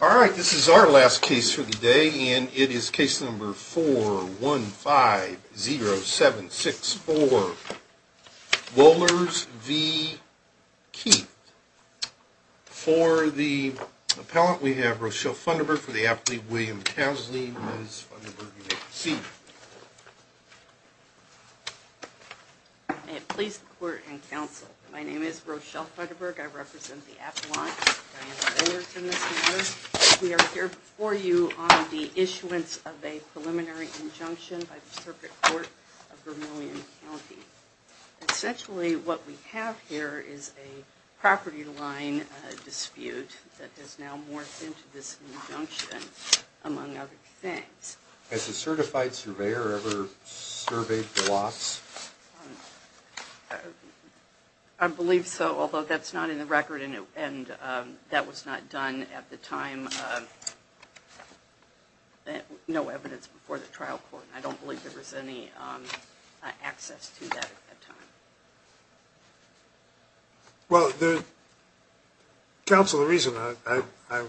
All right, this is our last case for the day, and it is case number 4150764, Wohlers v. Keith. For the appellant, we have Rochelle Funderburg, for the applant, William Casley. Ms. Funderburg, you may proceed. May it please the court and counsel, my name is Rochelle Funderburg. I represent the appellant, Diane Wohlers, in this matter. We are here before you on the issuance of a preliminary injunction by the circuit court of Vermilion County. Essentially, what we have here is a property line dispute that has now morphed into this injunction, among other things. Has a certified surveyor ever surveyed the lots? I believe so, although that's not in the record, and that was not done at the time. No evidence before the trial court, and I don't believe there was any access to that at that time. Well, counsel, the reason I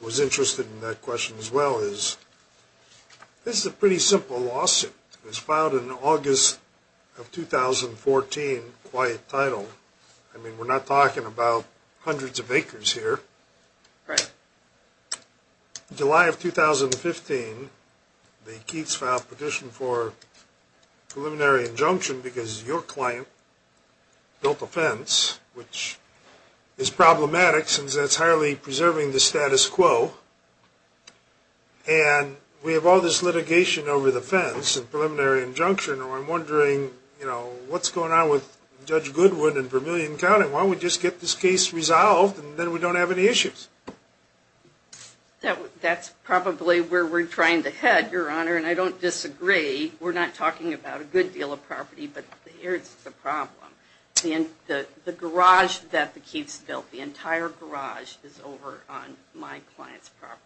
was interested in that question as well is, this is a pretty simple lawsuit. It was filed in August of 2014, quiet title. I mean, we're not talking about hundreds of acres here. Right. July of 2015, the Keats filed a petition for preliminary injunction because your client built a fence, which is problematic since that's highly preserving the status quo. And we have all this litigation over the fence and preliminary injunction, and I'm wondering, you know, what's going on with Judge Goodwood and Vermilion County? Why don't we just get this case resolved, and then we don't have any issues? That's probably where we're trying to head, Your Honor, and I don't disagree. We're not talking about a good deal of property, but here's the problem. The garage that the Keats built, the entire garage is over on my client's property.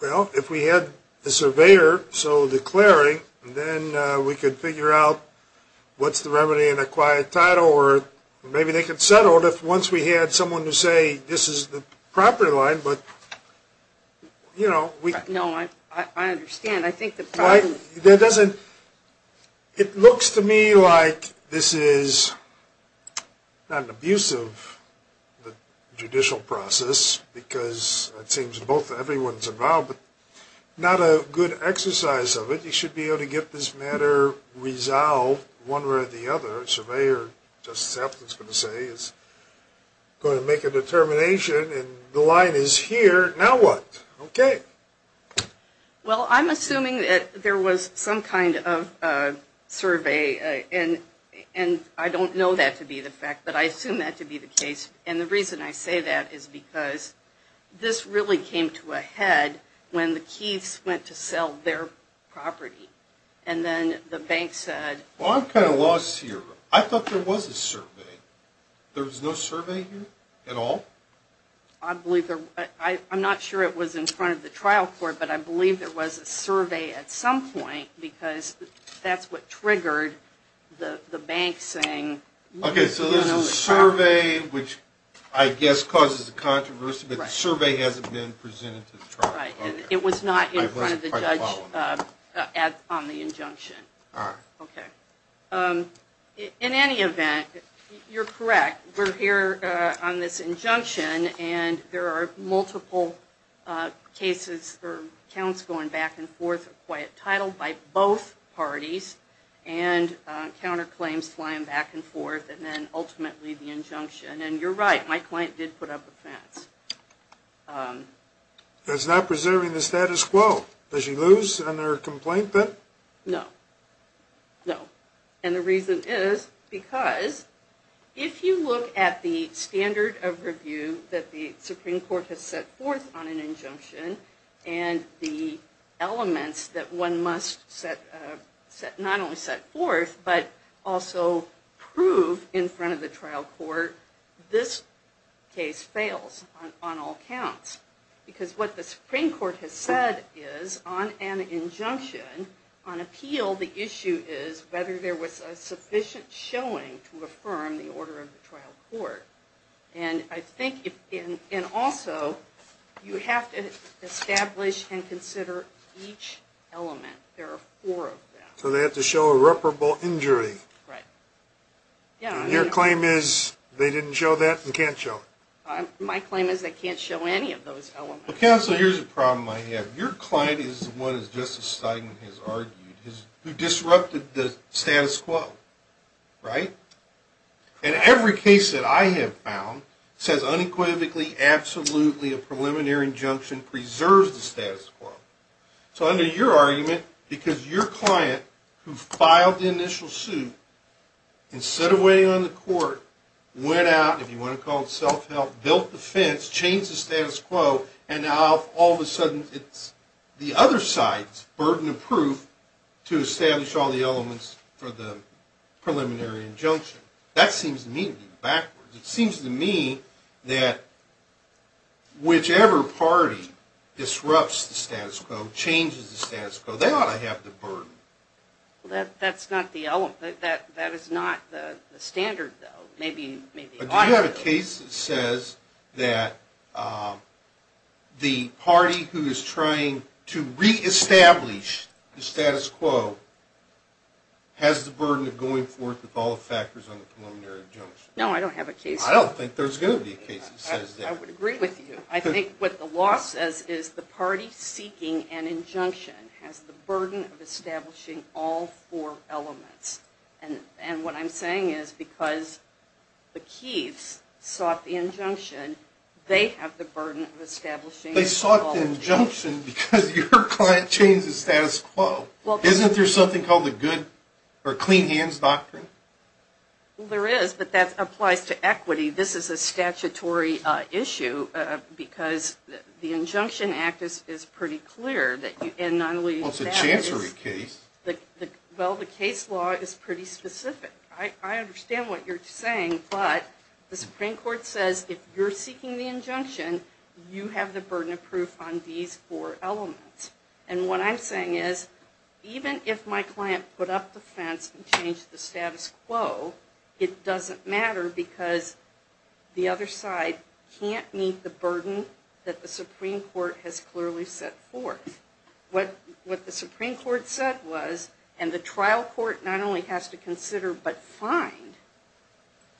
Well, if we had the surveyor so declaring, then we could figure out what's the remedy in a quiet title, or maybe they could settle it if once we had someone to say this is the property line, but, you know. No, I understand. I think the problem. It looks to me like this is not an abuse of the judicial process because it seems both everyone's involved, but not a good exercise of it. I think we should be able to get this matter resolved one way or the other. A surveyor, Justice Appleton's going to say, is going to make a determination, and the line is here. Now what? Okay. Well, I'm assuming that there was some kind of survey, and I don't know that to be the fact, but I assume that to be the case, and the reason I say that is because this really came to a head when the Keats went to sell their property, and then the bank said. Well, I'm kind of lost here. I thought there was a survey. There was no survey here at all? I'm not sure it was in front of the trial court, but I believe there was a survey at some point because that's what triggered the bank saying. Okay, so there's a survey, which I guess causes a controversy, but the survey hasn't been presented to the trial court. It was not in front of the judge on the injunction. All right. Okay. In any event, you're correct. We're here on this injunction, and there are multiple cases or counts going back and forth, a quiet title by both parties, and counterclaims flying back and forth, and then ultimately the injunction, and you're right. My client did put up a fence. It's not preserving the status quo. Does she lose on her complaint then? No. No, and the reason is because if you look at the standard of review that the Supreme Court has set forth on an injunction and the elements that one must not only set forth, but also prove in front of the trial court, this case fails on all counts because what the Supreme Court has said is on an injunction, on appeal, the issue is whether there was a sufficient showing to affirm the order of the trial court. And also, you have to establish and consider each element. There are four of them. So they have to show irreparable injury. Right. And your claim is they didn't show that and can't show it. My claim is they can't show any of those elements. Counsel, here's the problem I have. Your client is the one, as Justice Steinman has argued, who disrupted the status quo, right? And every case that I have found says unequivocally, absolutely, a preliminary injunction preserves the status quo. So under your argument, because your client, who filed the initial suit, instead of waiting on the court, went out, if you want to call it self-help, built the fence, changed the status quo, and now all of a sudden it's the other side's burden of proof to establish all the elements for the preliminary injunction. That seems to me to be backwards. It seems to me that whichever party disrupts the status quo, changes the status quo, they ought to have the burden. That's not the element. That is not the standard, though. But do you have a case that says that the party who is trying to reestablish the status quo has the burden of going forth with all the factors on the preliminary injunction? No, I don't have a case. I don't think there's going to be a case that says that. I would agree with you. I think what the law says is the party seeking an injunction has the burden of establishing all four elements. And what I'm saying is because the Keiths sought the injunction, they have the burden of establishing all the elements. They sought the injunction because your client changed the status quo. Isn't there something called the good or clean hands doctrine? Well, there is, but that applies to equity. This is a statutory issue because the Injunction Act is pretty clear. Well, it's a chancery case. Well, the case law is pretty specific. I understand what you're saying, but the Supreme Court says if you're seeking the injunction, you have the burden of proof on these four elements. And what I'm saying is even if my client put up the fence and changed the status quo, it doesn't matter because the other side can't meet the burden that the Supreme Court has clearly set forth. What the Supreme Court said was, and the trial court not only has to consider but find,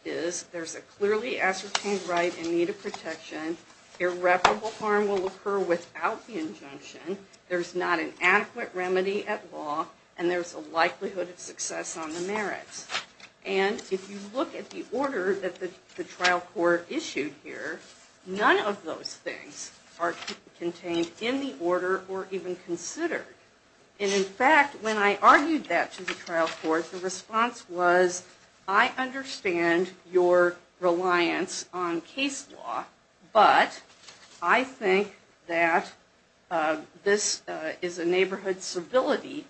is there's a clearly ascertained right and need of protection. Irreparable harm will occur without the injunction. There's not an adequate remedy at law, and there's a likelihood of success on the merits. And if you look at the order that the trial court issued here, none of those things are contained in the order or even considered. And in fact, when I argued that to the trial court, the response was, I understand your reliance on case law, but I think that this is a neighborhood civility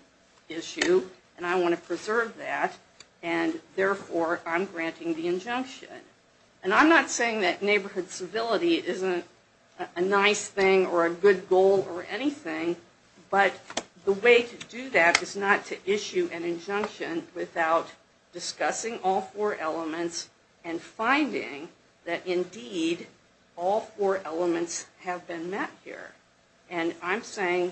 issue, and I want to preserve that, and therefore I'm granting the injunction. And I'm not saying that neighborhood civility isn't a nice thing or a good goal or anything, but the way to do that is not to issue an injunction without discussing all four elements and finding that indeed all four elements have been met here. And I'm saying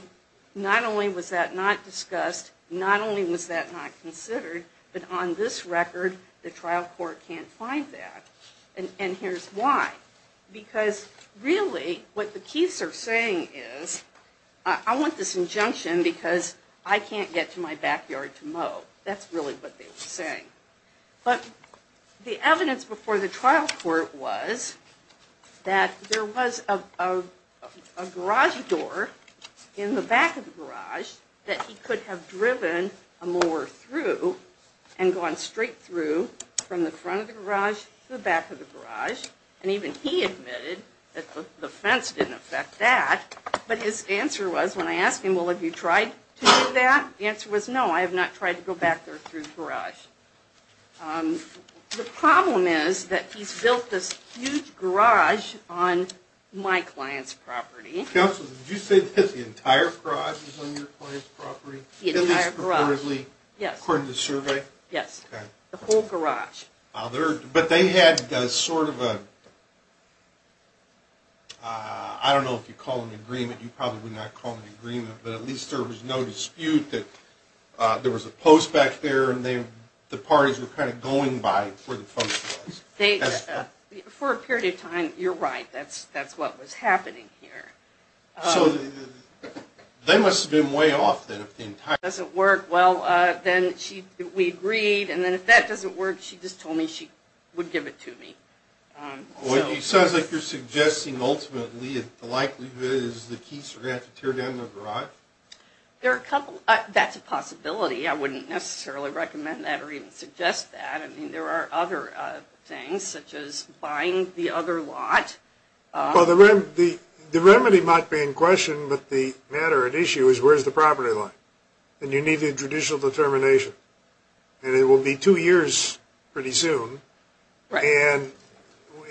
not only was that not discussed, not only was that not considered, but on this record the trial court can't find that. And here's why. Because really what the Keiths are saying is, I want this injunction because I can't get to my backyard to mow. That's really what they were saying. But the evidence before the trial court was that there was a garage door in the back of the garage that he could have driven a mower through and gone straight through from the front of the garage to the back of the garage. And even he admitted that the fence didn't affect that. But his answer was, when I asked him, well, have you tried to do that? The answer was, no, I have not tried to go back there through the garage. The problem is that he's built this huge garage on my client's property. Counsel, did you say that the entire garage was on your client's property? The entire garage, yes. According to the survey? Yes, the whole garage. But they had sort of a, I don't know if you'd call it an agreement. You probably would not call it an agreement. But at least there was no dispute that there was a post back there and the parties were kind of going by where the fence was. For a period of time, you're right. That's what was happening here. So they must have been way off then. If it doesn't work, well, then we agreed. And then if that doesn't work, she just told me she would give it to me. It sounds like you're suggesting ultimately the likelihood is the Keats are going to have to tear down their garage? That's a possibility. I wouldn't necessarily recommend that or even suggest that. I mean, there are other things, such as buying the other lot. Well, the remedy might be in question, but the matter at issue is where's the property line? And you need the judicial determination. And it will be two years pretty soon. And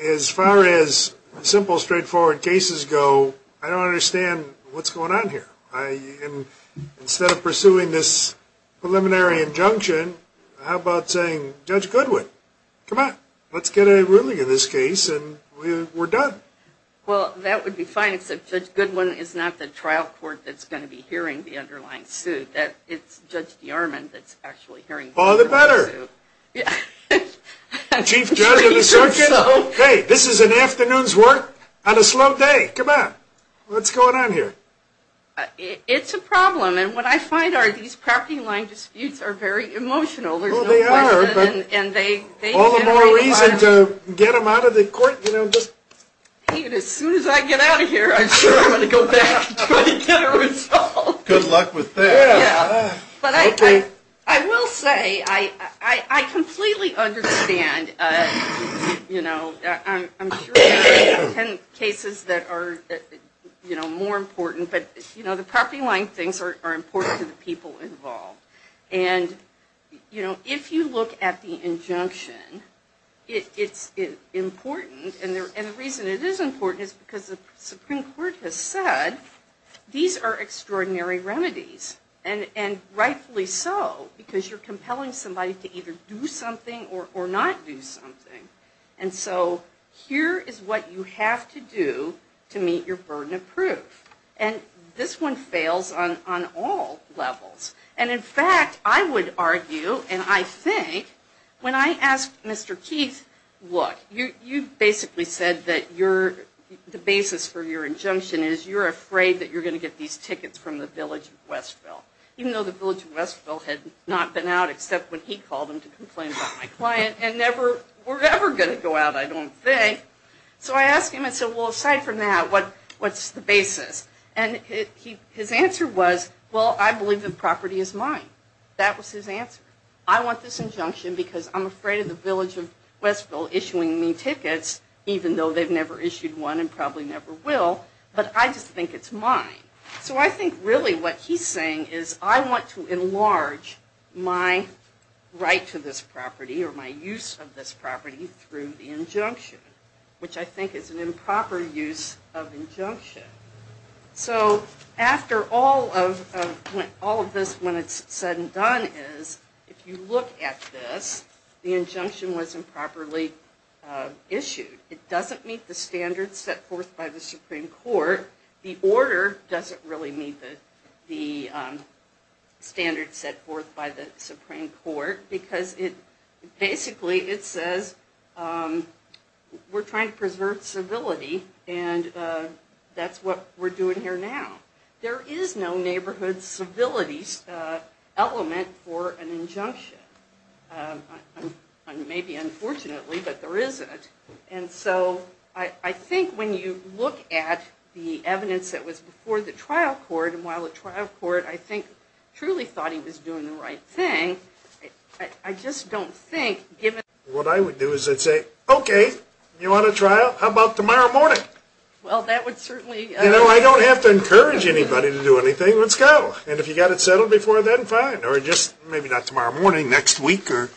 as far as simple, straightforward cases go, I don't understand what's going on here. Instead of pursuing this preliminary injunction, how about saying, Judge Goodwin, come on. Let's get a ruling in this case and we're done. Well, that would be fine, except Judge Goodwin is not the trial court that's going to be hearing the underlying suit. It's Judge DeArmond that's actually hearing the underlying suit. All the better. Chief Judge of the Circuit, hey, this is an afternoon's work on a slow day. Hey, come on. What's going on here? It's a problem. And what I find are these property line disputes are very emotional. Well, they are, but all the more reason to get them out of the court. As soon as I get out of here, I'm sure I'm going to go back to get a result. Good luck with that. I will say, I completely understand. I'm sure there are cases that are more important, but the property line things are important to the people involved. And if you look at the injunction, it's important. And the reason it is important is because the Supreme Court has said these are extraordinary remedies. And rightfully so, because you're compelling somebody to either do something or not do something. And so here is what you have to do to meet your burden of proof. And this one fails on all levels. And in fact, I would argue, and I think, when I asked Mr. Keith, look, you basically said that the basis for your injunction is you're afraid that you're going to get these tickets from the Village of Westville. Even though the Village of Westville had not been out except when he called them to complain about my client and never were ever going to go out, I don't think. So I asked him, I said, well, aside from that, what's the basis? And his answer was, well, I believe the property is mine. That was his answer. I want this injunction because I'm afraid of the Village of Westville issuing me tickets, even though they've never issued one and probably never will, but I just think it's mine. So I think really what he's saying is I want to enlarge my right to this property or my use of this property through the injunction. Which I think is an improper use of injunction. So after all of this, when it's said and done is, if you look at this, the injunction was improperly issued. It doesn't meet the standards set forth by the Supreme Court. The order doesn't really meet the standards set forth by the Supreme Court because basically it says we're trying to preserve civility and that's what we're doing here now. There is no neighborhood civility element for an injunction. Maybe unfortunately, but there isn't. And so I think when you look at the evidence that was before the trial court, I think truly thought he was doing the right thing. I just don't think, given... What I would do is I'd say, okay, you want a trial? How about tomorrow morning? Well, that would certainly... You know, I don't have to encourage anybody to do anything. Let's go. And if you got it settled before then, fine. Or just maybe not tomorrow morning, next week or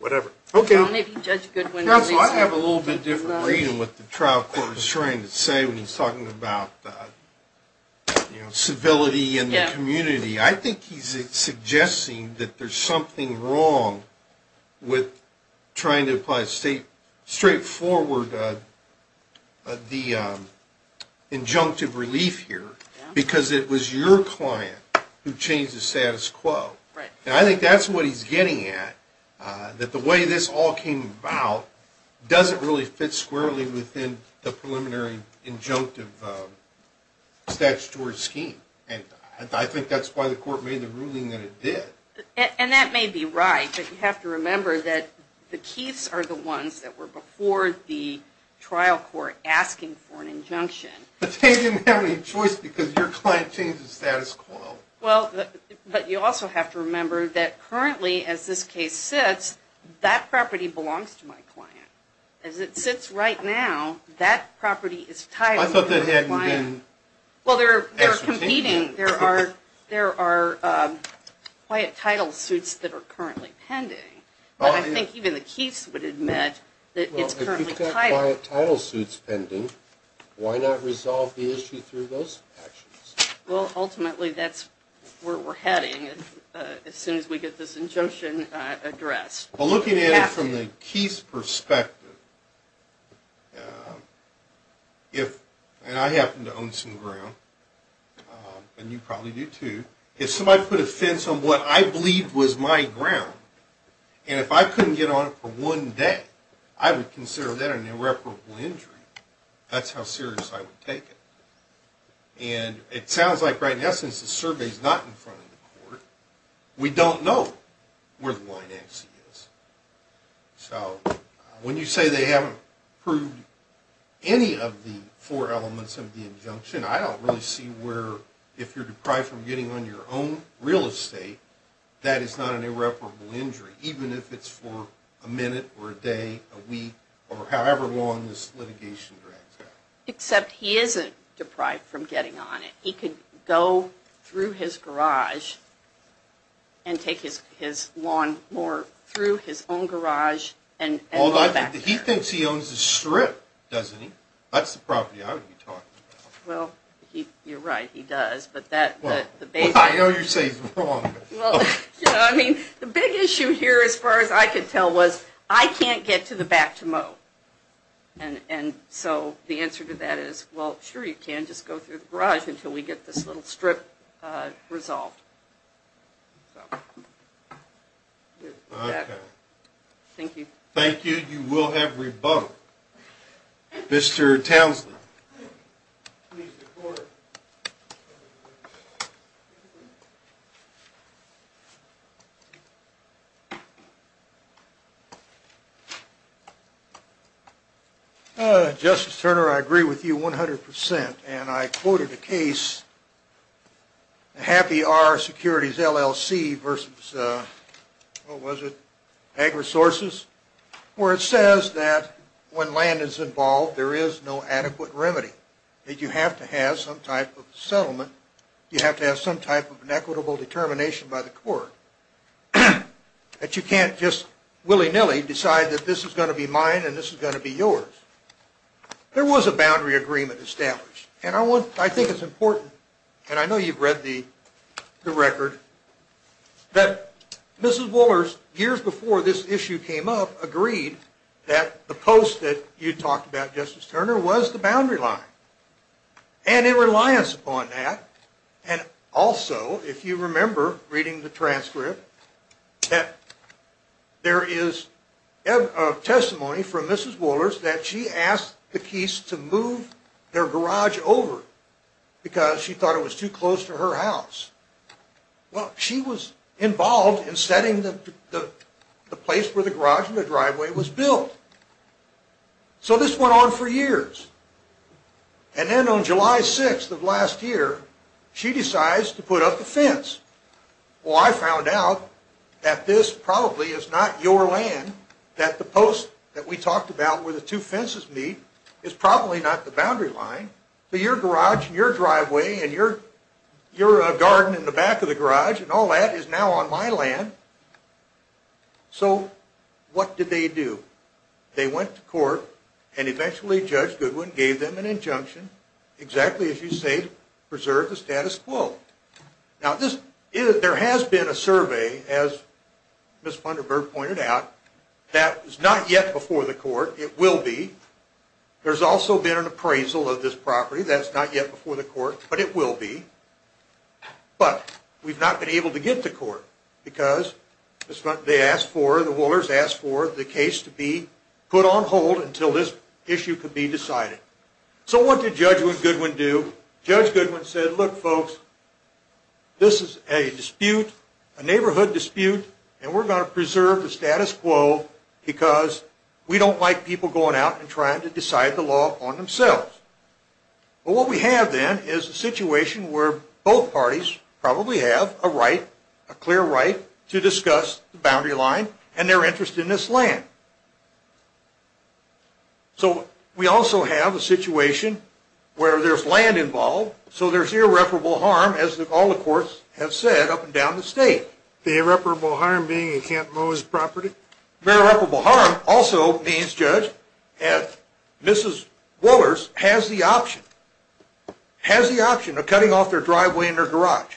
whatever. Okay. Well, maybe Judge Goodwin... I think I have a little bit different reading of what the trial court is trying to say when he's talking about civility in the community. I think he's suggesting that there's something wrong with trying to apply a straightforward injunctive relief here because it was your client who changed the status quo. And I think that's what he's getting at, that the way this all came about doesn't really fit squarely within the preliminary injunctive statutory scheme. And I think that's why the court made the ruling that it did. And that may be right. But you have to remember that the Keiths are the ones that were before the trial court asking for an injunction. But they didn't have any choice because your client changed the status quo. Well, but you also have to remember that currently, as this case sits, that property belongs to my client. As it sits right now, that property is titled... I thought that hadn't been... Well, they're competing. There are quiet title suits that are currently pending. But I think even the Keiths would admit that it's currently titled. Well, if you've got quiet title suits pending, why not resolve the issue through those actions? Well, ultimately, that's where we're heading as soon as we get this injunction addressed. Well, looking at it from the Keiths' perspective, and I happen to own some ground, and you probably do too, if somebody put a fence on what I believed was my ground, and if I couldn't get on it for one day, I would consider that an irreparable injury. That's how serious I would take it. And it sounds like right now, since the survey's not in front of the court, we don't know where the line actually is. So when you say they haven't proved any of the four elements of the injunction, I don't really see where, if you're deprived from getting on your own real estate, that is not an irreparable injury, even if it's for a minute or a day, a week, or however long this litigation drags out. Except he isn't deprived from getting on it. He could go through his garage and take his lawnmower through his own garage and go back there. He thinks he owns the strip, doesn't he? That's the property I would be talking about. Well, you're right, he does. Well, I know you're saying he's wrong. I mean, the big issue here, as far as I could tell, was I can't get to the back to mow. And so the answer to that is, well, sure you can. Just go through the garage until we get this little strip resolved. Thank you. Thank you. You will have rebuttal. Mr. Townsley. Justice Turner, I agree with you 100%. And I quoted a case, the Happy Hour Securities LLC versus, what was it, Ag Resources, where it says that when land is involved, there is no adequate remedy. That you have to have some type of settlement. You have to have some type of an equitable determination by the court. That you can't just willy-nilly decide that this is going to be mine and this is going to be yours. There was a boundary agreement established. And I think it's important, and I know you've read the record, that Mrs. Wooler, years before this issue came up, agreed that the post that you talked about, Justice Turner, was the boundary line. And in reliance upon that, and also, if you remember reading the transcript, that there is testimony from Mrs. Wooler's that she asked the Keese to move their garage over because she thought it was too close to her house. Well, she was involved in setting the place where the garage and the driveway was built. So this went on for years. And then on July 6th of last year, she decides to put up the fence. Well, I found out that this probably is not your land, that the post that we talked about where the two fences meet is probably not the boundary line. So your garage and your driveway and your garden in the back of the garage and all that is now on my land. So what did they do? They went to court, and eventually Judge Goodwin gave them an injunction, exactly as you say, to preserve the status quo. Now, there has been a survey, as Ms. Punderburg pointed out, that is not yet before the court. It will be. There's also been an appraisal of this property. That's not yet before the court, but it will be. But we've not been able to get to court because they asked for, the Woolers asked for, the case to be put on hold until this issue could be decided. So what did Judge Goodwin do? Judge Goodwin said, look, folks, this is a dispute, a neighborhood dispute, and we're going to preserve the status quo because we don't like people going out and trying to decide the law on themselves. Well, what we have then is a situation where both parties probably have a right, a clear right, to discuss the boundary line and their interest in this land. So we also have a situation where there's land involved, so there's irreparable harm, as all the courts have said up and down the state. The irreparable harm being in Camp Moe's property? Irreparable harm also means, Judge, that Mrs. Woolers has the option, has the option of cutting off their driveway and their garage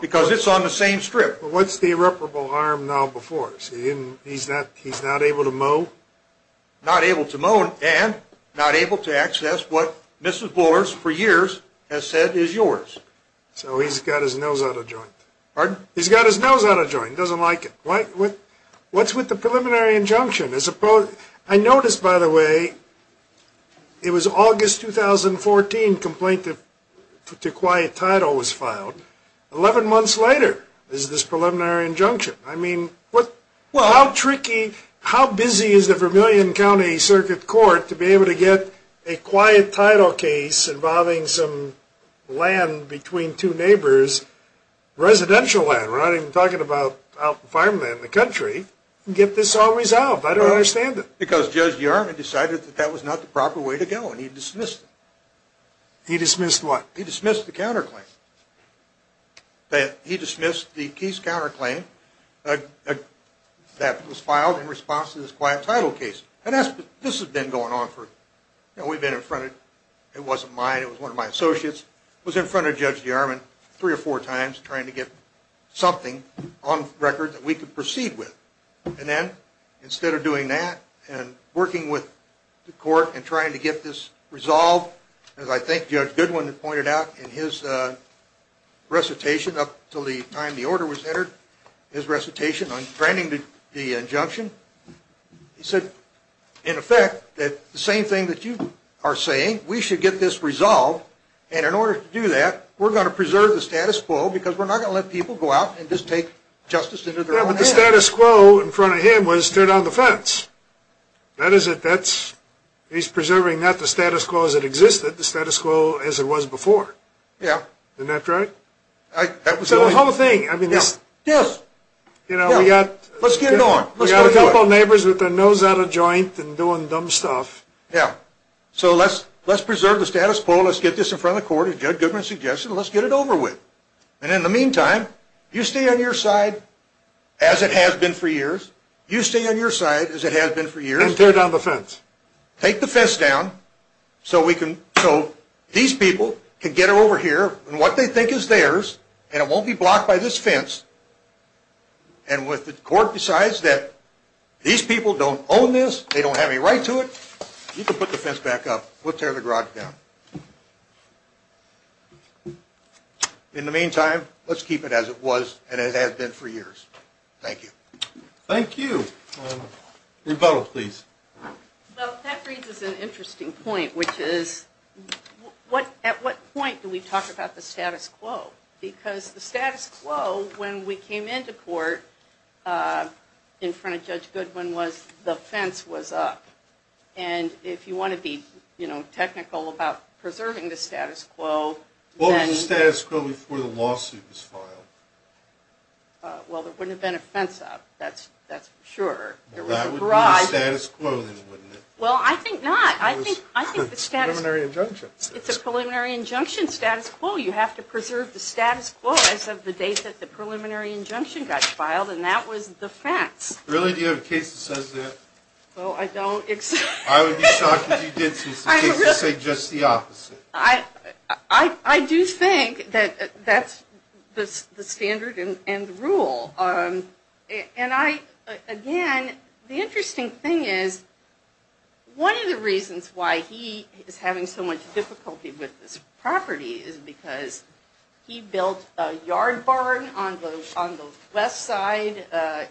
because it's on the same strip. What's the irreparable harm now before? He's not able to mow? Not able to mow and not able to access what Mrs. Woolers for years has said is yours. So he's got his nose out of joint. Pardon? He's got his nose out of joint. He doesn't like it. What's with the preliminary injunction? I noticed, by the way, it was August 2014 complaint to quiet title was filed. Eleven months later is this preliminary injunction. I mean, how tricky, how busy is the Vermillion County Circuit Court to be able to get a quiet title case involving some land between two neighbors, residential land? We're not even talking about farmland in the country. Get this all resolved. I don't understand it. Because Judge Yarman decided that that was not the proper way to go and he dismissed it. He dismissed what? He dismissed the counterclaim. He dismissed the case counterclaim that was filed in response to this quiet title case. And this has been going on for, you know, we've been in front of, it wasn't mine, it was one of my associates, was in front of Judge Yarman three or four times trying to get something on record that we could proceed with. And then instead of doing that and working with the court and trying to get this resolved, as I think Judge Goodwin pointed out in his recitation up until the time the order was entered, his recitation on granting the injunction, he said, in effect, that the same thing that you are saying, we should get this resolved, and in order to do that, we're going to preserve the status quo because we're not going to let people go out and just take justice into their own hands. Yeah, but the status quo in front of him was turn down the fence. That is it. He's preserving not the status quo as it existed, the status quo as it was before. Yeah. Isn't that right? That was the whole thing. Yeah. You know, we got a couple of neighbors with their nose out of joint and doing dumb stuff. Yeah. So let's preserve the status quo. Let's get this in front of the court, as Judge Goodwin suggested, and let's get it over with. And in the meantime, you stay on your side as it has been for years. You stay on your side as it has been for years. And tear down the fence. Take the fence down so these people can get over here and what they think is theirs, and it won't be blocked by this fence. And if the court decides that these people don't own this, they don't have any right to it, you can put the fence back up. We'll tear the garage down. In the meantime, let's keep it as it was and as it has been for years. Thank you. Thank you. Rebecca, please. That raises an interesting point, which is at what point do we talk about the status quo? Because the status quo, when we came into court in front of Judge Goodwin, was the fence was up. And if you want to be technical about preserving the status quo. What was the status quo before the lawsuit was filed? Well, there wouldn't have been a fence up. That's for sure. That would be the status quo, then, wouldn't it? Well, I think not. I think the status quo. Preliminary injunction. It's a preliminary injunction status quo. You have to preserve the status quo as of the date that the preliminary injunction got filed, and that was the fence. Really? Do you have a case that says that? Well, I don't. I would be shocked if you did, since the case would say just the opposite. I do think that that's the standard and the rule. Again, the interesting thing is, one of the reasons why he is having so much difficulty with this property is because he built a yard barn on the west side.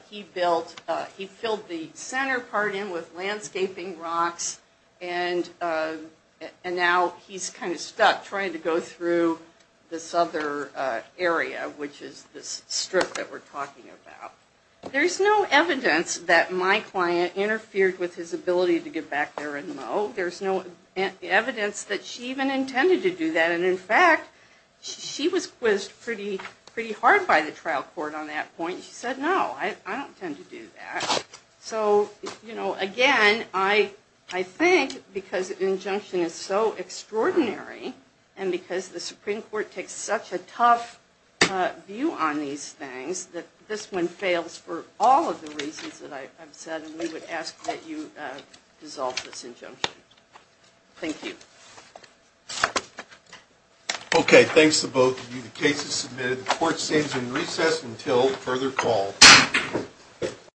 He filled the center part in with landscaping rocks, and now he's kind of stuck trying to go through this other area, which is this strip that we're talking about. There's no evidence that my client interfered with his ability to get back there and mow. There's no evidence that she even intended to do that. And in fact, she was quizzed pretty hard by the trial court on that point. She said, no, I don't tend to do that. So, again, I think because the injunction is so extraordinary, and because the Supreme Court takes such a tough view on these things, that this one fails for all of the reasons that I've said, and we would ask that you dissolve this injunction. Thank you. Okay, thanks to both of you. The case is submitted. Court stays in recess until further call.